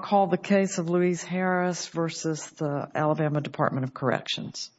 call the case of Louise Harris versus the Alabama Department of Corrections.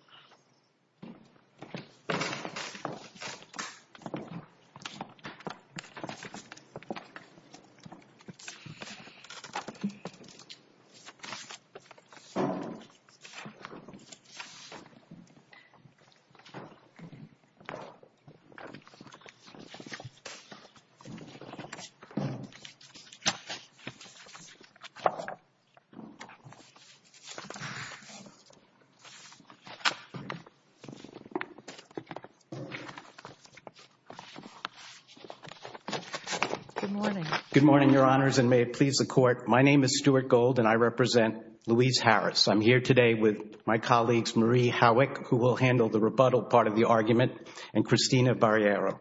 Good morning. Good morning, Your Honors, and may it please the Court, my name is Stuart Gold and I represent Louise Harris. I'm here today with my colleagues Marie Howick, who will handle the rebuttal part of the argument, and Christina Barriero.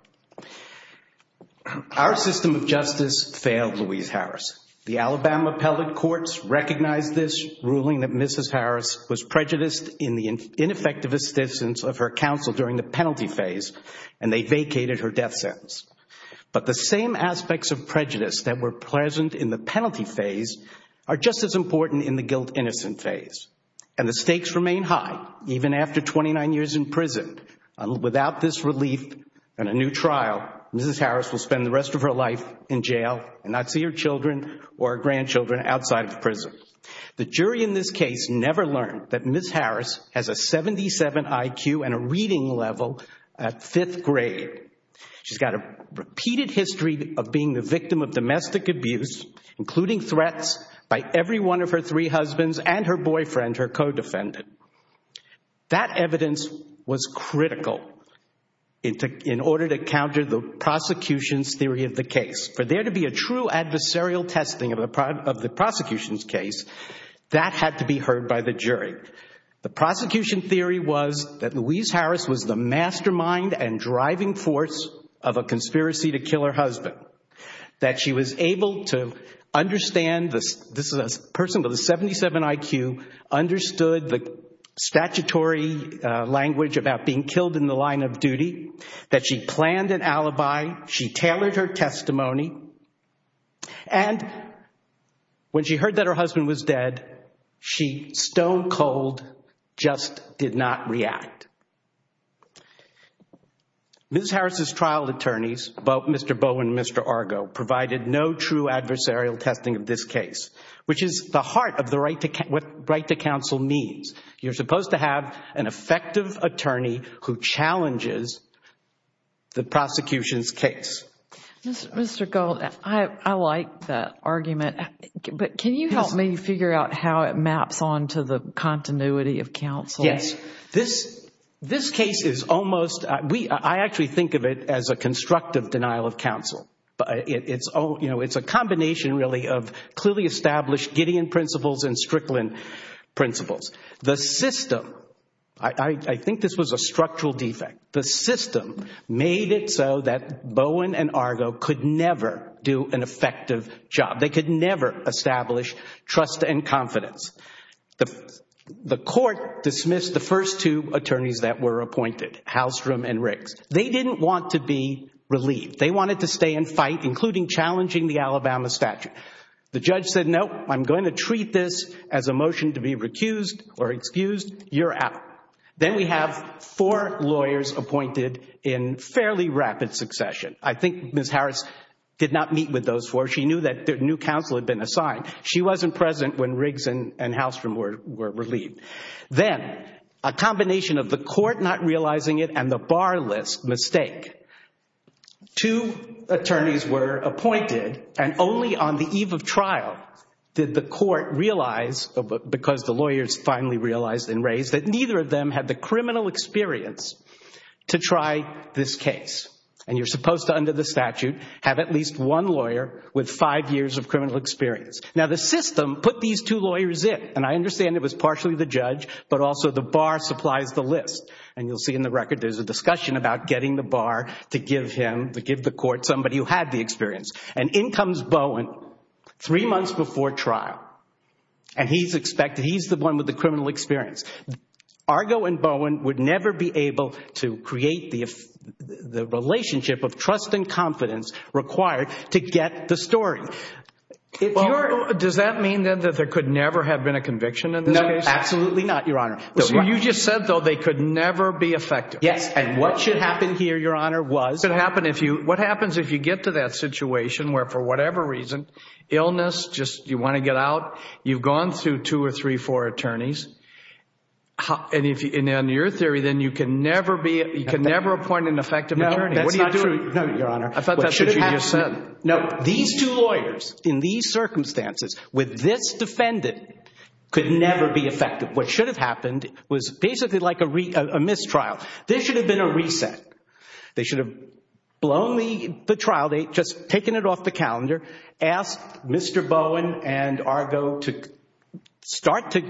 Our system of justice failed Louise Harris. The Alabama appellate courts recognized this ruling that Mrs. Harris was prejudiced in the ineffective assistance of her counsel during the penalty phase, and they vacated her death sentence. But the same aspects of prejudice that were present in the penalty phase are just as important in the guilt-innocent phase, and the stakes remain high, even after 29 years in prison. Without this relief and a new trial, Mrs. Harris will spend the rest of her life in prison, or her grandchildren, outside of prison. The jury in this case never learned that Mrs. Harris has a 77 IQ and a reading level at fifth grade. She's got a repeated history of being the victim of domestic abuse, including threats by every one of her three husbands and her boyfriend, her co-defendant. That evidence was critical in order to counter the prosecution's theory of the case. For there to be a true adversarial testing of the prosecution's case, that had to be heard by the jury. The prosecution theory was that Louise Harris was the mastermind and driving force of a conspiracy to kill her husband. That she was able to understand, this is a person with a 77 IQ, understood the statutory language about being killed in the line of duty, that she planned an alibi, she tailored her testimony, and when she heard that her husband was dead, she, stone cold, just did not react. Mrs. Harris' trial attorneys, Mr. Bowen and Mr. Argo, provided no true adversarial testing of this case, which is the heart of what right to counsel means. You're supposed to have an effective attorney who challenges the prosecution's case. Mr. Gold, I like that argument, but can you help me figure out how it maps on to the continuity of counsel? This case is almost, I actually think of it as a constructive denial of counsel. It's a combination, really, of clearly established Gideon principles and Strickland principles. The system, I think this was a structural defect, the system made it so that Bowen and Argo could never do an effective job. They could never establish trust and confidence. The court dismissed the first two attorneys that were appointed, Halstrom and Riggs. They didn't want to be relieved. They wanted to stay and fight, including challenging the Alabama statute. The judge said, nope, I'm going to treat this as a motion to be recused or excused. You're out. Then we have four lawyers appointed in fairly rapid succession. I think Mrs. Harris did not meet with those four. She knew that new counsel had been assigned. She wasn't present when Riggs and Halstrom were relieved. Then a combination of the court not realizing it and the bar list mistake. Two attorneys were appointed, and only on the eve of trial did the court realize, because the lawyers finally realized and raised, that neither of them had the criminal experience to try this case. And you're supposed to, under the statute, have at least one lawyer with five years of criminal experience. Now the system put these two lawyers in, and I understand it was partially the judge, but also the bar supplies the list. And you'll see in the record there's a discussion about getting the bar to give him, to give the court somebody who had the experience. And in comes Bowen, three months before trial. And he's expected, he's the one with the criminal experience. Argo and Bowen would never be able to create the relationship of trust and confidence required to get the story. Does that mean that there could never have been a conviction in this case? No, absolutely not, your honor. So you just said, though, they could never be effective. Yes, and what should happen here, your honor, was... What happens if you get to that situation where, for whatever reason, illness, just you want to get out, you've gone through two or three, four attorneys, and in your theory then you can never appoint an effective attorney. No, that's not true, your honor. I thought that's what you just said. No, these two lawyers, in these circumstances, with this defendant, could never be effective. What should have happened was basically like a mistrial. This should have been a reset. They should have blown the trial date, just taken it off the calendar, asked Mr. Bowen and Argo to start to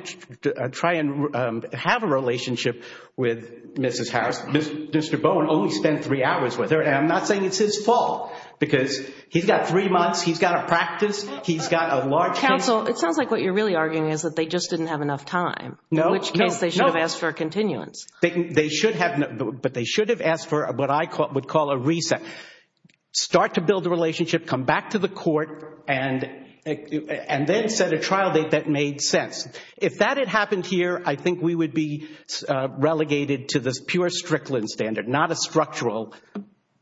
try and have a relationship with Mrs. Harris. Mr. Bowen only spent three hours with her. I'm not saying it's his fault, because he's got three months, he's got to practice, he's got a large... Counsel, it sounds like what you're really arguing is that they just didn't have enough time, in which case they should have asked for a continuance. They should have, but they should have asked for what I would call a reset. Start to build a relationship, come back to the court, and then set a trial date that made sense. If that had happened here, I think we would be relegated to this pure Strickland standard, not a structural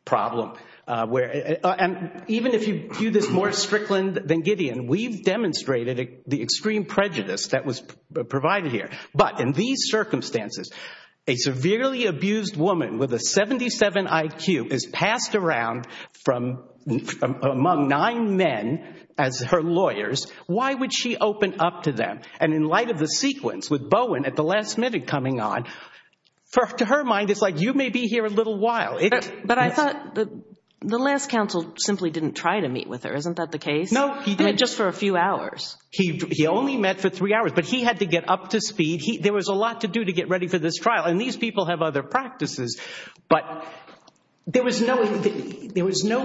problem. Even if you view this more Strickland than Gideon, we've demonstrated the extreme prejudice that was provided here. But in these circumstances, a severely abused woman with a 77 IQ is passed around among nine men as her lawyers. Why would she open up to them? In light of the sequence with Bowen at the last minute coming on, to her mind, it's like you may be here a little while. But I thought the last counsel simply didn't try to meet with her. Isn't that the case? No, he didn't. Just for a few hours. He only met for three hours, but he had to get up to speed. There was a lot to do to get ready for this trial, and these people have other practices, but there was no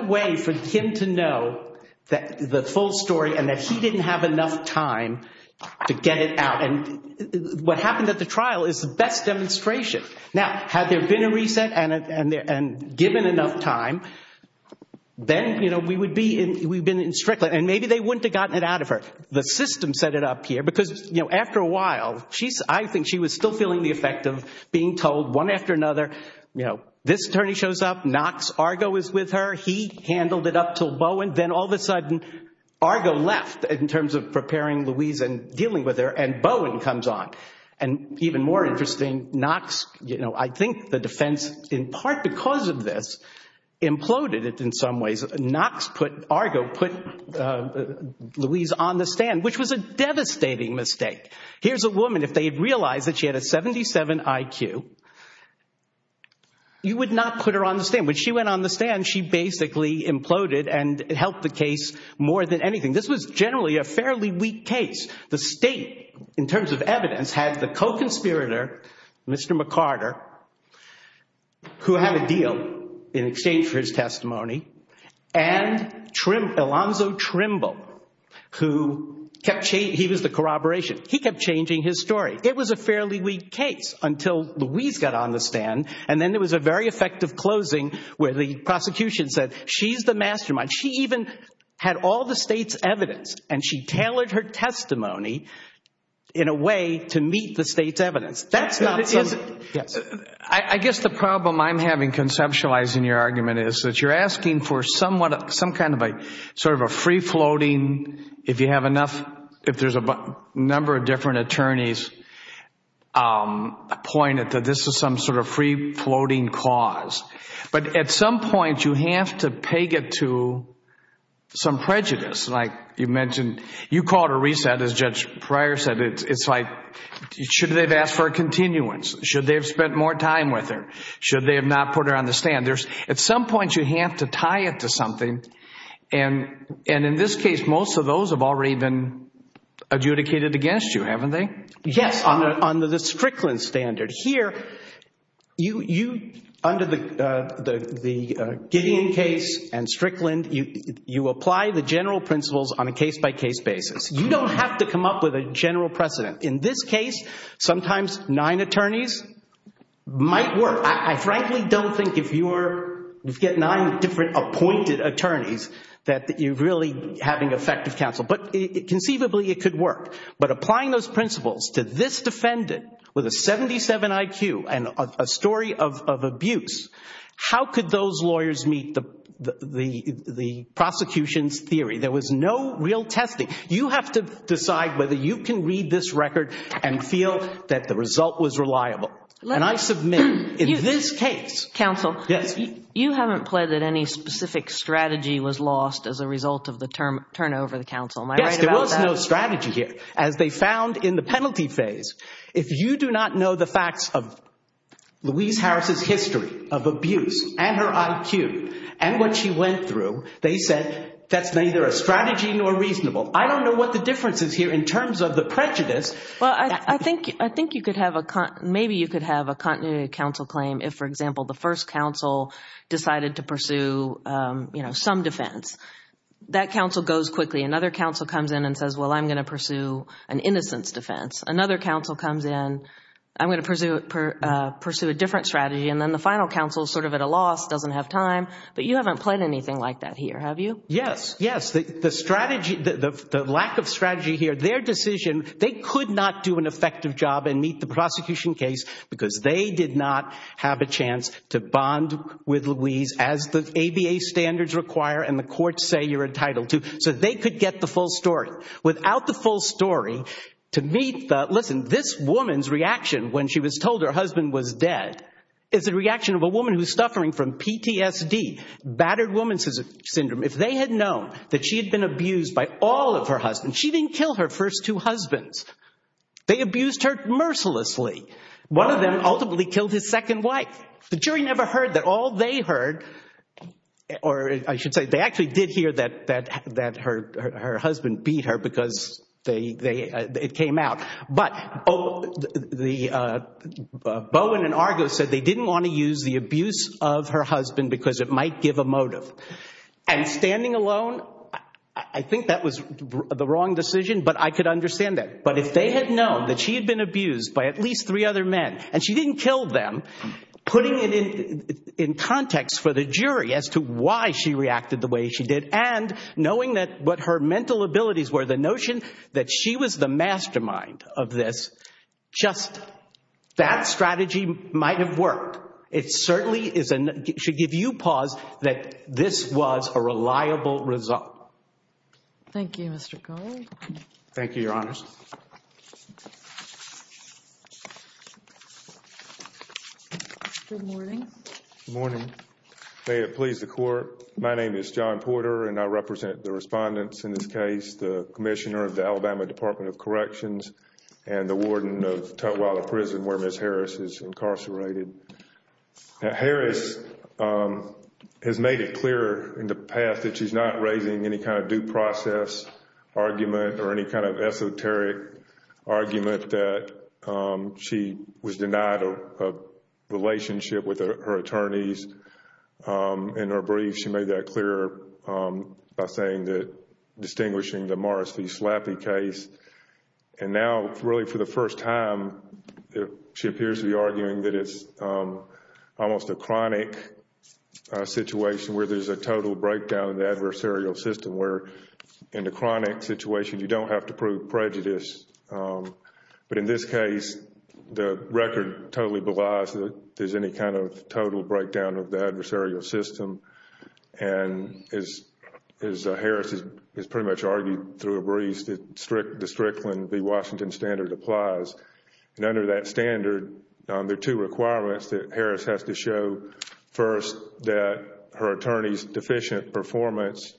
way for him to know the full story and that he didn't have enough time to get it out. What happened at the trial is the best demonstration. Now, had there been a reset and given enough time, then we would be in Strickland, and maybe they wouldn't have gotten it out of her. The system set it up here because after a while, I think she was still feeling the effect of being told one after another, this attorney shows up, Knox Argo is with her, he handled it up till Bowen, then all of a sudden Argo left in terms of preparing Louise and dealing with her, and Bowen comes on. Even more interesting, Knox, I think the defense, in part because of this, imploded it in some ways. Knox Argo put Louise on the stand, which was a devastating mistake. Here's a woman, if they had realized that she had a 77 IQ, you would not put her on the stand. When she went on the stand, she basically imploded and helped the case more than anything. This was generally a fairly weak case. The state, in terms of evidence, had the co-conspirator, Mr. McCarter, who had a deal in exchange for his testimony, and Alonzo Trimble, who was the corroboration. He kept changing his story. It was a fairly weak case until Louise got on the stand, and then there was a very effective closing where the prosecution said, she's the mastermind. She even had all the state's evidence, and she tailored her testimony in a way to meet the state's evidence. That's not something... Yes. I guess the problem I'm having conceptualizing your argument is that you're asking for some kind of a free-floating, if you have enough, if there's a number of different attorneys pointed that this is some sort of free-floating cause. But at some point, you have to peg it to some prejudice, like you mentioned. You called a reset, as Judge Pryor said. It's like, should they have asked for a continuance? Should they have spent more time with her? Should they have not put her on the stand? At some point, you have to tie it to something, and in this case, most of those have already been adjudicated against you, haven't they? Yes, under the Strickland standard. Here, under the Gideon case and Strickland, you apply the general principles on a case-by-case basis. You don't have to come up with a general precedent. In this case, sometimes nine attorneys might work. I frankly don't think if you get nine different appointed attorneys that you're really having effective counsel, but conceivably, it could work. But applying those principles to this defendant, with a 77 IQ and a story of abuse, how could those lawyers meet the prosecution's theory? There was no real testing. You have to decide whether you can read this record and feel that the result was reliable. And I submit, in this case— Counsel, you haven't pled that any specific strategy was lost as a result of the turnover of the counsel. Am I right about that? There's no strategy here. As they found in the penalty phase, if you do not know the facts of Louise Harris' history of abuse and her IQ and what she went through, they said that's neither a strategy nor reasonable. I don't know what the difference is here in terms of the prejudice. Well, I think you could have a—maybe you could have a continuity of counsel claim if, for example, the first counsel decided to pursue some defense. That counsel goes quickly. Another counsel comes in and says, well, I'm going to pursue an innocence defense. Another counsel comes in, I'm going to pursue a different strategy. And then the final counsel is sort of at a loss, doesn't have time. But you haven't pled anything like that here, have you? Yes. Yes. The strategy—the lack of strategy here, their decision, they could not do an effective job and meet the prosecution case because they did not have a chance to bond with Louise as the ABA standards require and the courts say you're entitled to. So they could get the full story. Without the full story, to meet the—listen, this woman's reaction when she was told her husband was dead is a reaction of a woman who's suffering from PTSD, battered woman syndrome. If they had known that she had been abused by all of her husbands, she didn't kill her first two husbands. They abused her mercilessly. One of them ultimately killed his second wife. The jury never heard that all they heard—or I should say they actually did hear that her husband beat her because it came out. But Bowen and Argo said they didn't want to use the abuse of her husband because it might give a motive. And standing alone, I think that was the wrong decision, but I could understand that. But if they had known that she had been abused by at least three other men and she didn't kill them, putting it in context for the jury as to why she reacted the way she did and knowing that what her mental abilities were, the notion that she was the mastermind of this, just that strategy might have worked. It certainly is—should give you pause that this was a reliable result. Thank you, Mr. Gold. Thank you, Your Honors. Good morning. Good morning. May it please the Court, my name is John Porter and I represent the respondents in this case, the Commissioner of the Alabama Department of Corrections and the Warden of Tutwiler Prison where Ms. Harris is incarcerated. Harris has made it clear in the past that she's not raising any kind of due process argument or any kind of esoteric argument that she was denied a relationship with her attorneys. In her brief, she made that clear by saying that distinguishing the Morris v. Slappy case. And now, really for the first time, she appears to be arguing that it's almost a chronic situation where there's a total breakdown of the adversarial system where in the chronic situation you don't have to prove prejudice. But in this case, the record totally belies that there's any kind of total breakdown of the adversarial system. And as Harris has pretty much argued through a brief, the Strickland v. Washington standard applies. And under that standard, there are two requirements that Harris has to show. First, that her attorney's deficient performance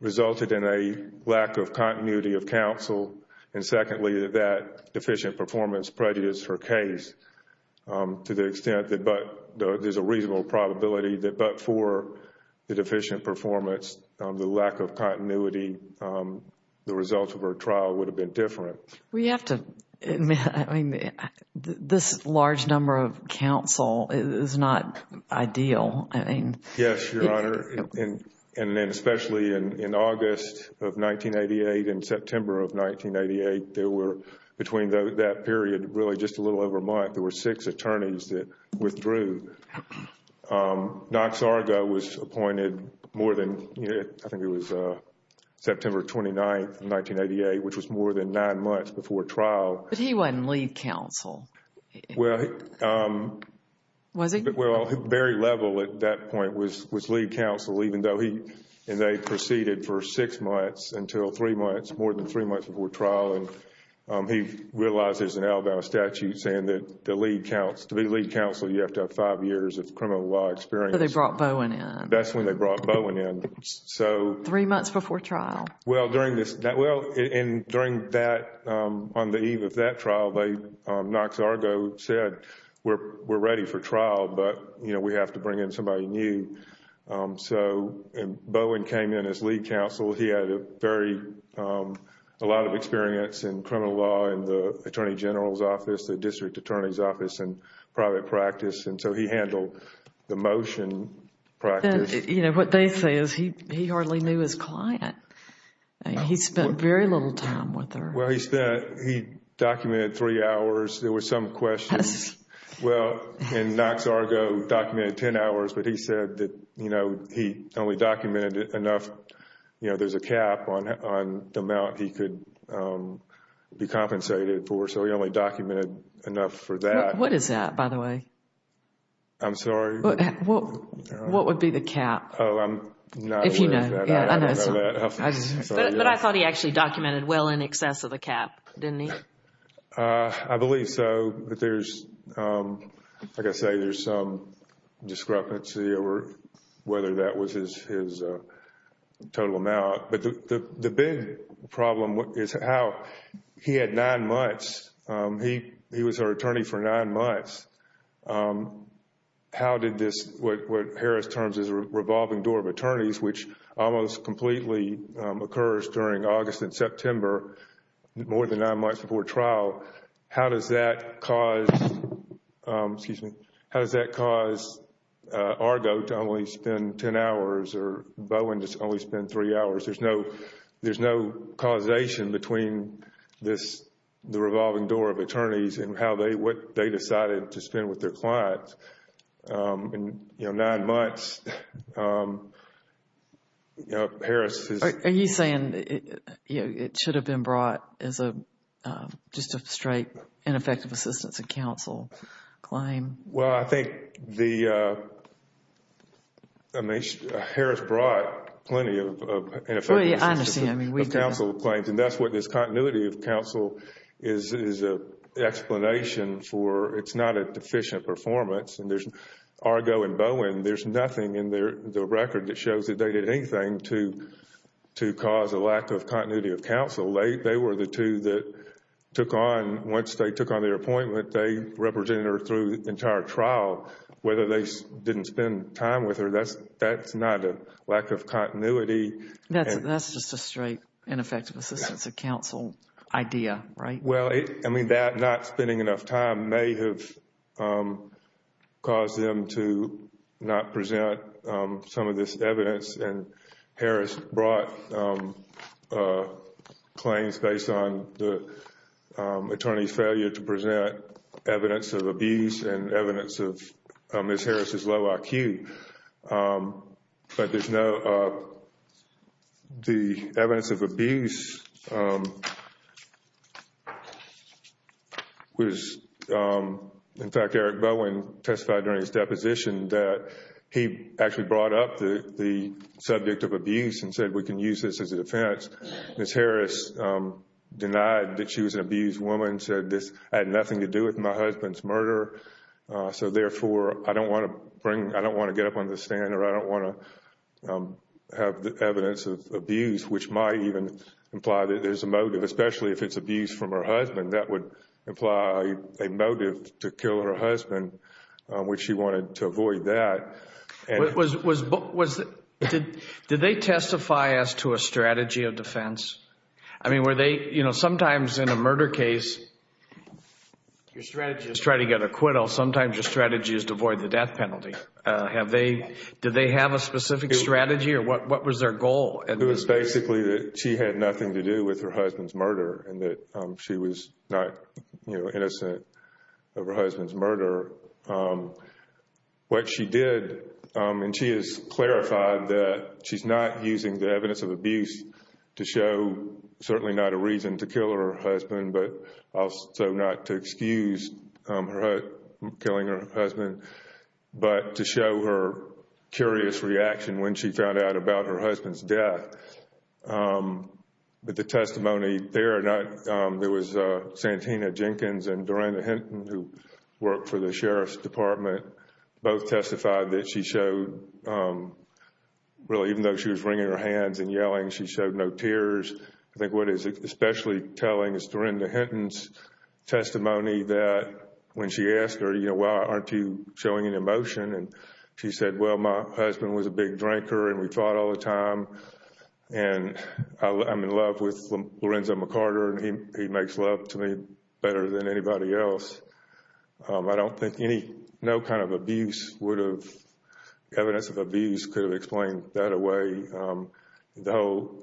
resulted in a lack of continuity of counsel. And secondly, that that deficient performance prejudiced her case to the extent that there's a reasonable probability that but for the deficient performance, the lack of continuity, the result of her trial would have been different. We have to admit, I mean, this large number of counsel is not ideal. Yes, Your Honor, and then especially in August of 1988 and September of 1988, there were between that period really just a little over a month, there were six attorneys that withdrew. Knox Argo was appointed more than, I think it was September 29th, 1988, which was more than nine months before trial. But he wasn't lead counsel. Well, he... Was he? Well, at the very level at that point was lead counsel, even though he, and they proceeded for six months until three months, more than three months before trial, and he realizes an Alabama statute saying that to be lead counsel, you have to have five years of criminal law experience. So they brought Bowen in. That's when they brought Bowen in. So... Three months before trial. Well, during this... Well, and during that, on the eve of that trial, Knox Argo said, we're ready for trial, but, you know, we have to bring in somebody new. So Bowen came in as lead counsel. He had a very, a lot of experience in criminal law in the Attorney General's Office, the District Attorney's Office, and private practice, and so he handled the motion practice. You know, what they say is he hardly knew his client. He spent very little time with her. Well, he spent, he documented three hours. There were some questions. Well, and Knox Argo documented ten hours, but he said that, you know, he only documented enough, you know, there's a cap on the amount he could be compensated for, so he only documented enough for that. What is that, by the way? I'm sorry? What would be the cap? Oh, I'm not aware of that. If you know. Yeah, I know. But I thought he actually documented well in excess of the cap, didn't he? I believe so, but there's, like I say, there's some discrepancy over whether that was his total amount. But the big problem is how he had nine months. He was our attorney for nine months. How did this, what Harris terms as a revolving door of attorneys, which almost completely occurs during August and September, more than nine months before trial. How does that cause, excuse me, how does that cause Argo to only spend ten hours or Bowen to only spend three hours? There's no causation between this, the revolving door of attorneys and how they, what they decided to spend with their clients. In nine months, Harris is. Are you saying it should have been brought as a, just a straight ineffective assistance and counsel claim? Well, I think the, I mean, Harris brought plenty of ineffective assistance and counsel claims. And that's what this continuity of counsel is, is a explanation for. It's not a deficient performance and there's Argo and Bowen. There's nothing in their record that shows that they did anything to, to cause a lack of continuity of counsel. They were the two that took on, once they took on their appointment, they represented her through the entire trial. Whether they didn't spend time with her, that's, that's not a lack of continuity. That's, that's just a straight ineffective assistance and counsel idea, right? Well, I mean, that not spending enough time may have caused them to not present some of this evidence. And Harris brought claims based on the attorney's failure to present evidence of abuse and evidence of Ms. Harris's low IQ. But there's no, the evidence of abuse was, in fact, Eric Bowen testified during his deposition that he actually brought up the subject of abuse and said, we can use this as a defense. Ms. Harris denied that she was an abused woman, said this had nothing to do with my husband's murder. So therefore, I don't want to bring, I don't want to get up on the stand or I don't want to have the evidence of abuse, which might even imply that there's a motive, especially if it's abuse from her husband, that would imply a motive to kill her husband, which she wanted to avoid that. Was, was, was, did, did they testify as to a strategy of defense? I mean, were they, you know, sometimes in a murder case, your strategy is try to get acquittal. Sometimes your strategy is to avoid the death penalty. Have they, did they have a specific strategy or what, what was their goal? It was basically that she had nothing to do with her husband's murder and that she was What she did, and she has clarified that she's not using the evidence of abuse to show, certainly not a reason to kill her husband, but also not to excuse her killing her husband, but to show her curious reaction when she found out about her husband's death. But the testimony there, not, there was Santina Jenkins and Dorenda Hinton who worked for the Sheriff's Department, both testified that she showed, really, even though she was wringing her hands and yelling, she showed no tears. I think what is especially telling is Dorenda Hinton's testimony that when she asked her, you know, why aren't you showing any emotion? And she said, well, my husband was a big drinker and we fought all the time. And I'm in love with Lorenzo McCarter and he makes love to me better than anybody else. I don't think any, no kind of abuse would have, evidence of abuse could have explained that away. Though,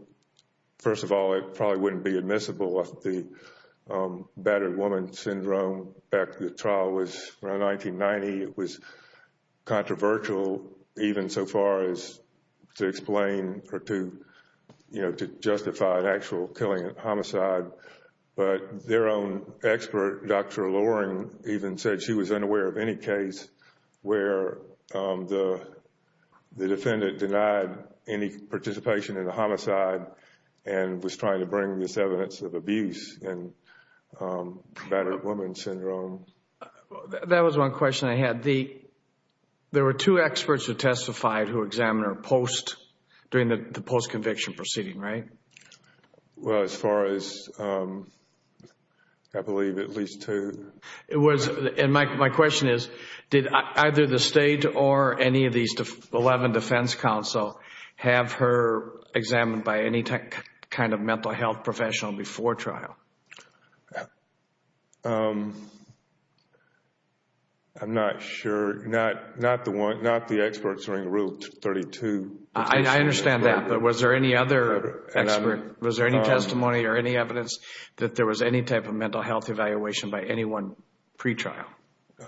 first of all, it probably wouldn't be admissible if the battered woman syndrome back to the trial was around 1990. It was controversial even so far as to explain or to, you know, to justify an actual killing homicide. But their own expert, Dr. Loring, even said she was unaware of any case where the defendant denied any participation in a homicide and was trying to bring this evidence of abuse in battered woman syndrome. That was one question I had. There were two experts who testified who examined her post, during the post-conviction proceeding, right? Well, as far as, I believe, at least two. It was, and my question is, did either the state or any of these 11 defense counsel have her examined by any kind of mental health professional before trial? I'm not sure, not the one, not the experts during Rule 32. I understand that, but was there any other expert? Was there any testimony or any evidence that there was any type of mental health evaluation by anyone pre-trial?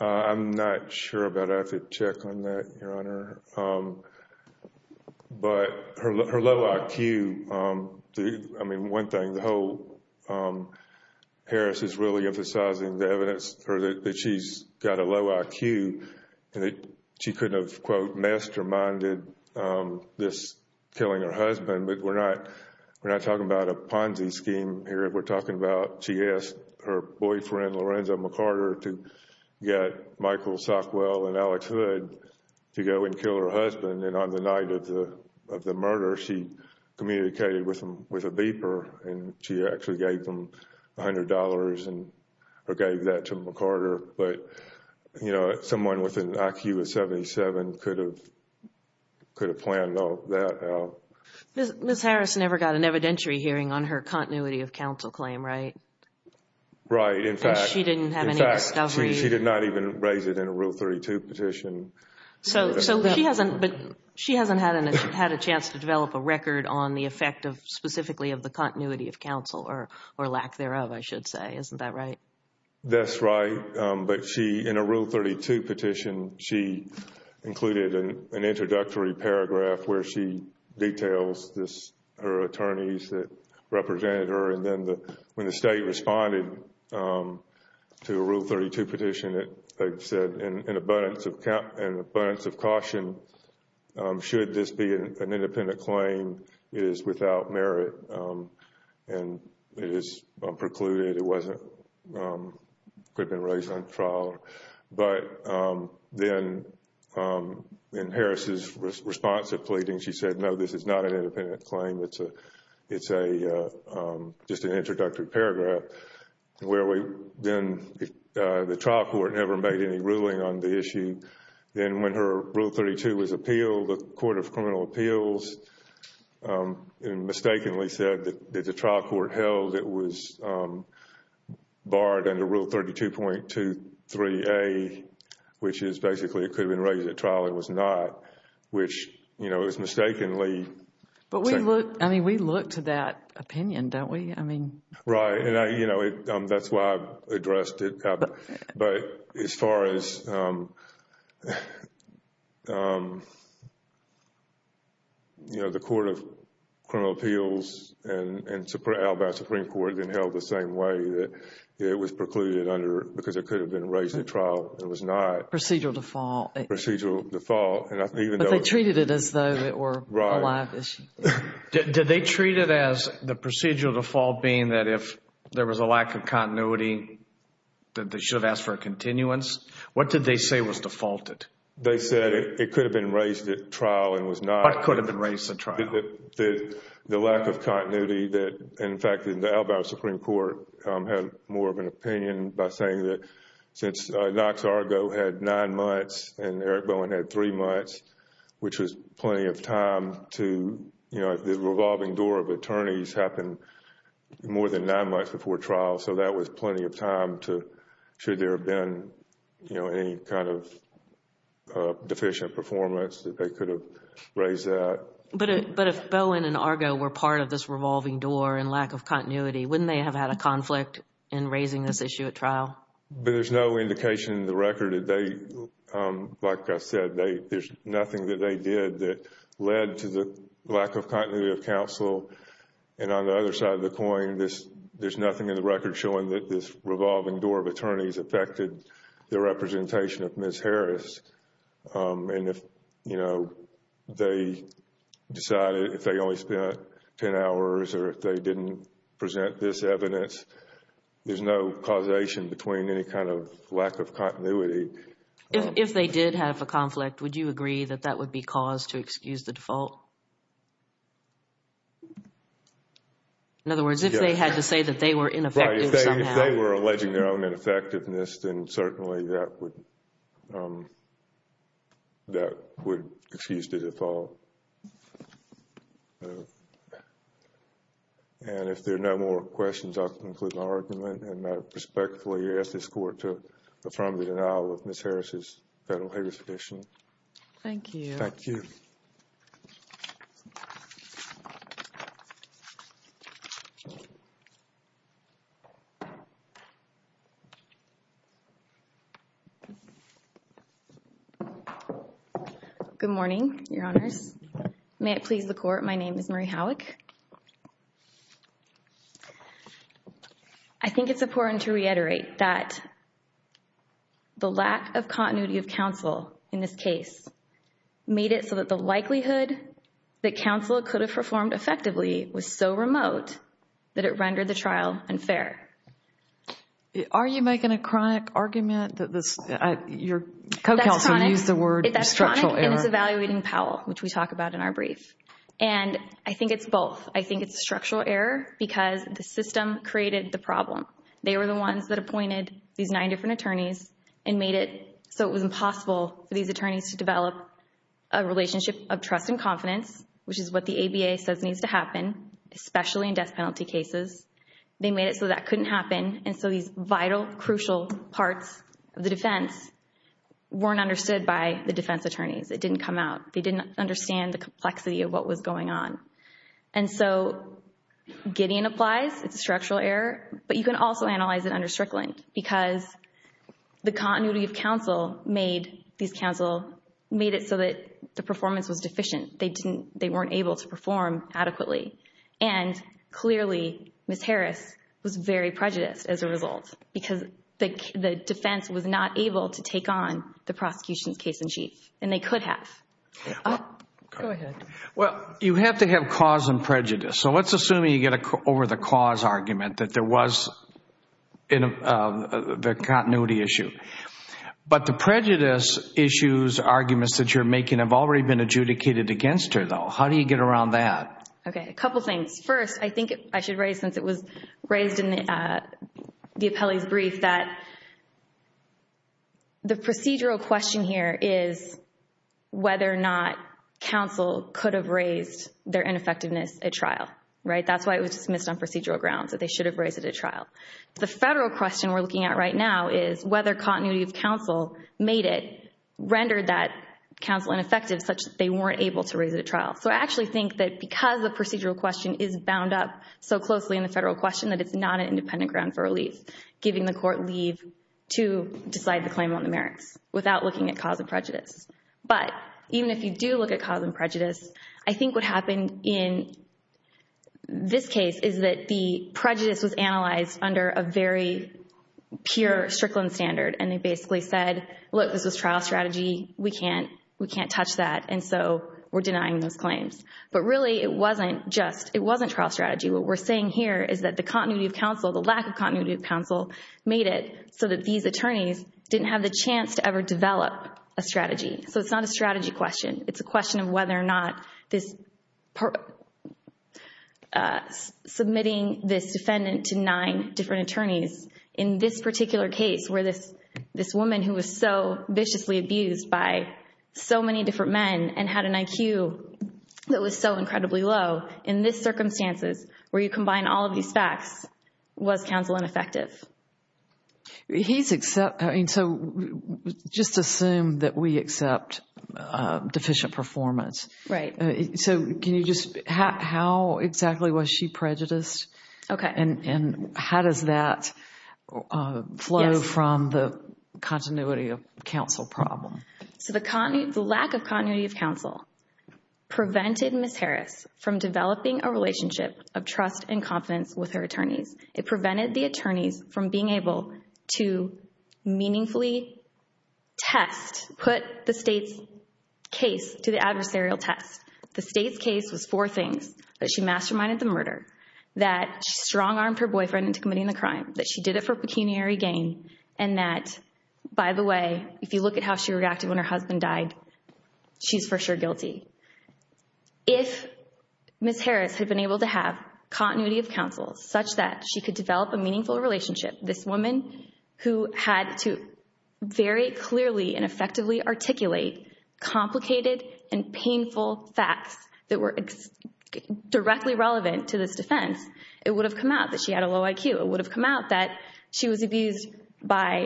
I'm not sure about, I have to check on that, Your Honor. But her low IQ, I mean, one thing, the whole, Harris is really emphasizing the evidence that she's got a low IQ and that she couldn't have, quote, masterminded this killing her husband, but we're not talking about a Ponzi scheme here. We're talking about, she asked her boyfriend, Lorenzo McCarter, to get Michael Sockwell and Alex Hood to go and kill her husband, and on the night of the murder, she communicated with a beeper and she actually gave them $100 and gave that to McCarter. But, you know, someone with an IQ of 77 could have planned all that out. Ms. Harris never got an evidentiary hearing on her continuity of counsel claim, right? Right. In fact, she did not even raise it in a Rule 32 petition. So she hasn't had a chance to develop a record on the effect of, specifically, of the continuity of counsel or lack thereof, I should say. Isn't that right? That's right. But she, in a Rule 32 petition, she included an introductory paragraph where she details this, her attorneys that represented her, and then when the State responded to a Rule 32, an abundance of caution, should this be an independent claim, it is without merit and it is precluded, it wasn't, could have been raised on trial. But then, in Harris's response to pleading, she said, no, this is not an independent claim, it's a, just an introductory paragraph, where we then, the trial court never made any ruling on the issue. Then, when her Rule 32 was appealed, the Court of Criminal Appeals mistakenly said that the trial court held it was barred under Rule 32.23a, which is basically it could have been raised at trial, it was not, which, you know, it was mistakenly. But we look, I mean, we look to that opinion, don't we? I mean. Right. And I, you know, that's why I addressed it, but as far as, you know, the Court of Criminal Appeals and Alibi Supreme Court then held the same way, that it was precluded under, because it could have been raised at trial, it was not. Procedural default. Procedural default. But they treated it as though it were a live issue. Did they treat it as the procedural default being that if there was a lack of continuity, that they should have asked for a continuance? What did they say was defaulted? They said it could have been raised at trial and was not. But it could have been raised at trial. The lack of continuity that, in fact, the Alabama Supreme Court had more of an opinion by saying that since Knox Argo had nine months and Eric Bowen had three months, which was you know, the revolving door of attorneys happened more than nine months before trial. So that was plenty of time to, should there have been, you know, any kind of deficient performance that they could have raised that. But if Bowen and Argo were part of this revolving door and lack of continuity, wouldn't they have had a conflict in raising this issue at trial? But there's no indication in the record that they, like I said, there's nothing that they lack of continuity of counsel. And on the other side of the coin, there's nothing in the record showing that this revolving door of attorneys affected the representation of Ms. Harris. And if, you know, they decided if they only spent ten hours or if they didn't present this evidence, there's no causation between any kind of lack of continuity. If they did have a conflict, would you agree that that would be cause to excuse the default? In other words, if they had to say that they were ineffective somehow. If they were alleging their own ineffectiveness, then certainly that would excuse the default. And if there are no more questions, I'll conclude my argument. And I respectfully ask this Court to affirm the denial of Ms. Harris' federal habeas petition. Thank you. Thank you. Good morning, Your Honors. May it please the Court, my name is Marie Howick. I think it's important to reiterate that the lack of continuity of counsel in this case made it so that the likelihood that counsel could have performed effectively was so remote that it rendered the trial unfair. Are you making a chronic argument that your co-counsel used the word structural error? That's chronic and it's evaluating Powell, which we talk about in our brief. And I think it's both. I think it's structural error because the system created the problem. They were the ones that appointed these nine different attorneys and made it so it was impossible for these attorneys to develop a relationship of trust and confidence, which is what the ABA says needs to happen, especially in death penalty cases. They made it so that couldn't happen. And so these vital, crucial parts of the defense weren't understood by the defense attorneys. It didn't come out. They didn't understand the complexity of what was going on. And so Gideon applies. It's a structural error, but you can also analyze it under Strickland because the continuity of counsel made it so that the performance was deficient. They weren't able to perform adequately. And clearly, Ms. Harris was very prejudiced as a result because the defense was not able to take on the prosecution's case-in-chief, and they could have. Go ahead. Well, you have to have cause and prejudice. So let's assume you get over the cause argument that there was the continuity issue. But the prejudice issues, arguments that you're making, have already been adjudicated against her, though. How do you get around that? Okay, a couple things. First, I think I should raise, since it was raised in the appellee's brief, that the procedural question here is whether or not counsel could have raised their ineffectiveness at trial. That's why it was dismissed on procedural grounds, that they should have raised it at trial. The federal question we're looking at right now is whether continuity of counsel made it, rendered that counsel ineffective such that they weren't able to raise it at trial. So I actually think that because the procedural question is bound up so closely in the federal question that it's not an independent ground for relief, giving the court leave to decide the claim on the merits without looking at cause and prejudice. But even if you do look at cause and prejudice, I think what happened in this case is that the prejudice was analyzed under a very pure Strickland standard, and they basically said, look, this was trial strategy, we can't touch that, and so we're denying those claims. But really, it wasn't trial strategy. What we're saying here is that the continuity of counsel, the lack of continuity of counsel, made it so that these attorneys didn't have the chance to ever develop a strategy. So it's not a strategy question. It's a question of whether or not submitting this defendant to nine different attorneys. In this particular case, where this woman who was so viciously abused by so many different men and had an IQ that was so incredibly low, in these circumstances, where you combine all of these facts, was counsel ineffective? So just assume that we accept deficient performance. Right. So how exactly was she prejudiced? Okay. And how does that flow from the continuity of counsel problem? So the lack of continuity of counsel prevented Ms. Harris from developing a relationship of trust and confidence with her attorneys. It prevented the attorneys from being able to meaningfully test, put the state's case to the adversarial test. The state's case was four things, that she masterminded the murder, that she strong-armed her boyfriend into committing the crime, that she did it for pecuniary gain, and that, by the way, if you look at how she reacted when her husband died, she's for sure guilty. If Ms. Harris had been able to have continuity of counsel such that she could develop a meaningful relationship, this woman who had to very clearly and effectively articulate complicated and painful facts that were directly relevant to this defense, it would have come out that she had a low IQ. It would have come out that she was abused by,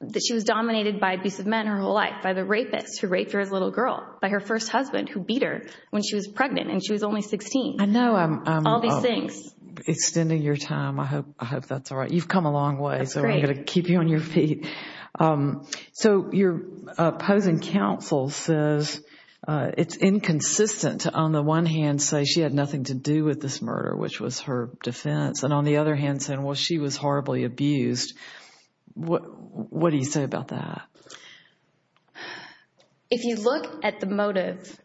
that she was dominated by abusive men her whole life, by the rapist who raped her as a little girl, by her first husband who beat her when she was pregnant and she was only 16. I know. All these things. Extending your time, I hope that's all right. You've come a long way, so I'm going to keep you on your feet. So your opposing counsel says it's inconsistent to, on the one hand, say she had nothing to do with this murder, which was her defense, and on the other hand saying, well, she was horribly abused. What do you say about that? If you look at the motive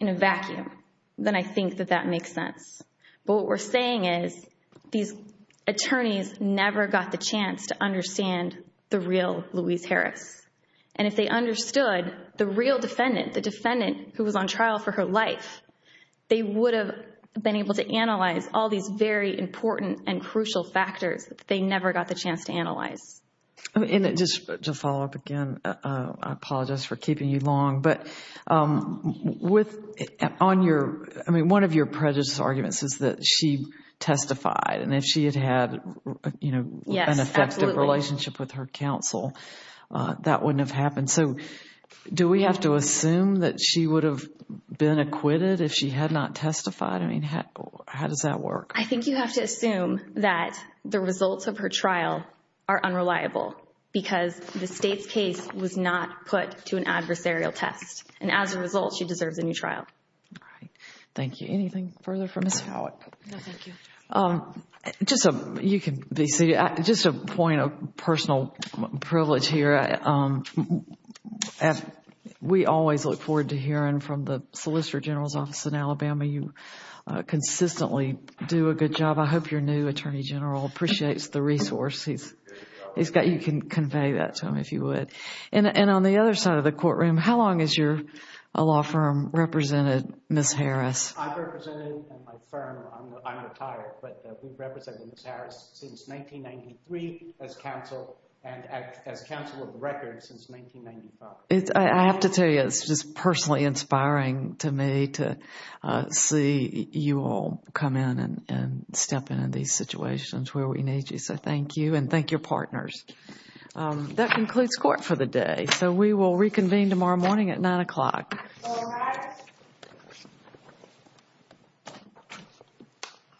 in a vacuum, then I think that that makes sense. But what we're saying is these attorneys never got the chance to understand the real Louise Harris. And if they understood the real defendant, the defendant who was on trial for her life, they would have been able to analyze all these very important and crucial factors that they never got the chance to analyze. Just to follow up again, I apologize for keeping you long, but one of your prejudiced arguments is that she testified, and if she had had an effective relationship with her counsel, that wouldn't have happened. So do we have to assume that she would have been acquitted if she had not testified? How does that work? I think you have to assume that the results of her trial are unreliable because the State's case was not put to an adversarial test. And as a result, she deserves a new trial. All right. Thank you. Anything further for Ms. Howatt? No, thank you. Just a point of personal privilege here. We always look forward to hearing from the Solicitor General's Office in Alabama. You consistently do a good job. I hope your new Attorney General appreciates the resources. You can convey that to him if you would. And on the other side of the courtroom, how long has your law firm represented Ms. Harris? I've represented my firm. I'm retired, but we've represented Ms. Harris since 1993 as counsel and as counsel of the record since 1995. I have to tell you, it's just personally inspiring to me to see you all come in and step in in these situations where we need you. So thank you and thank your partners. That concludes court for the day. So we will reconvene tomorrow morning at 9 o'clock.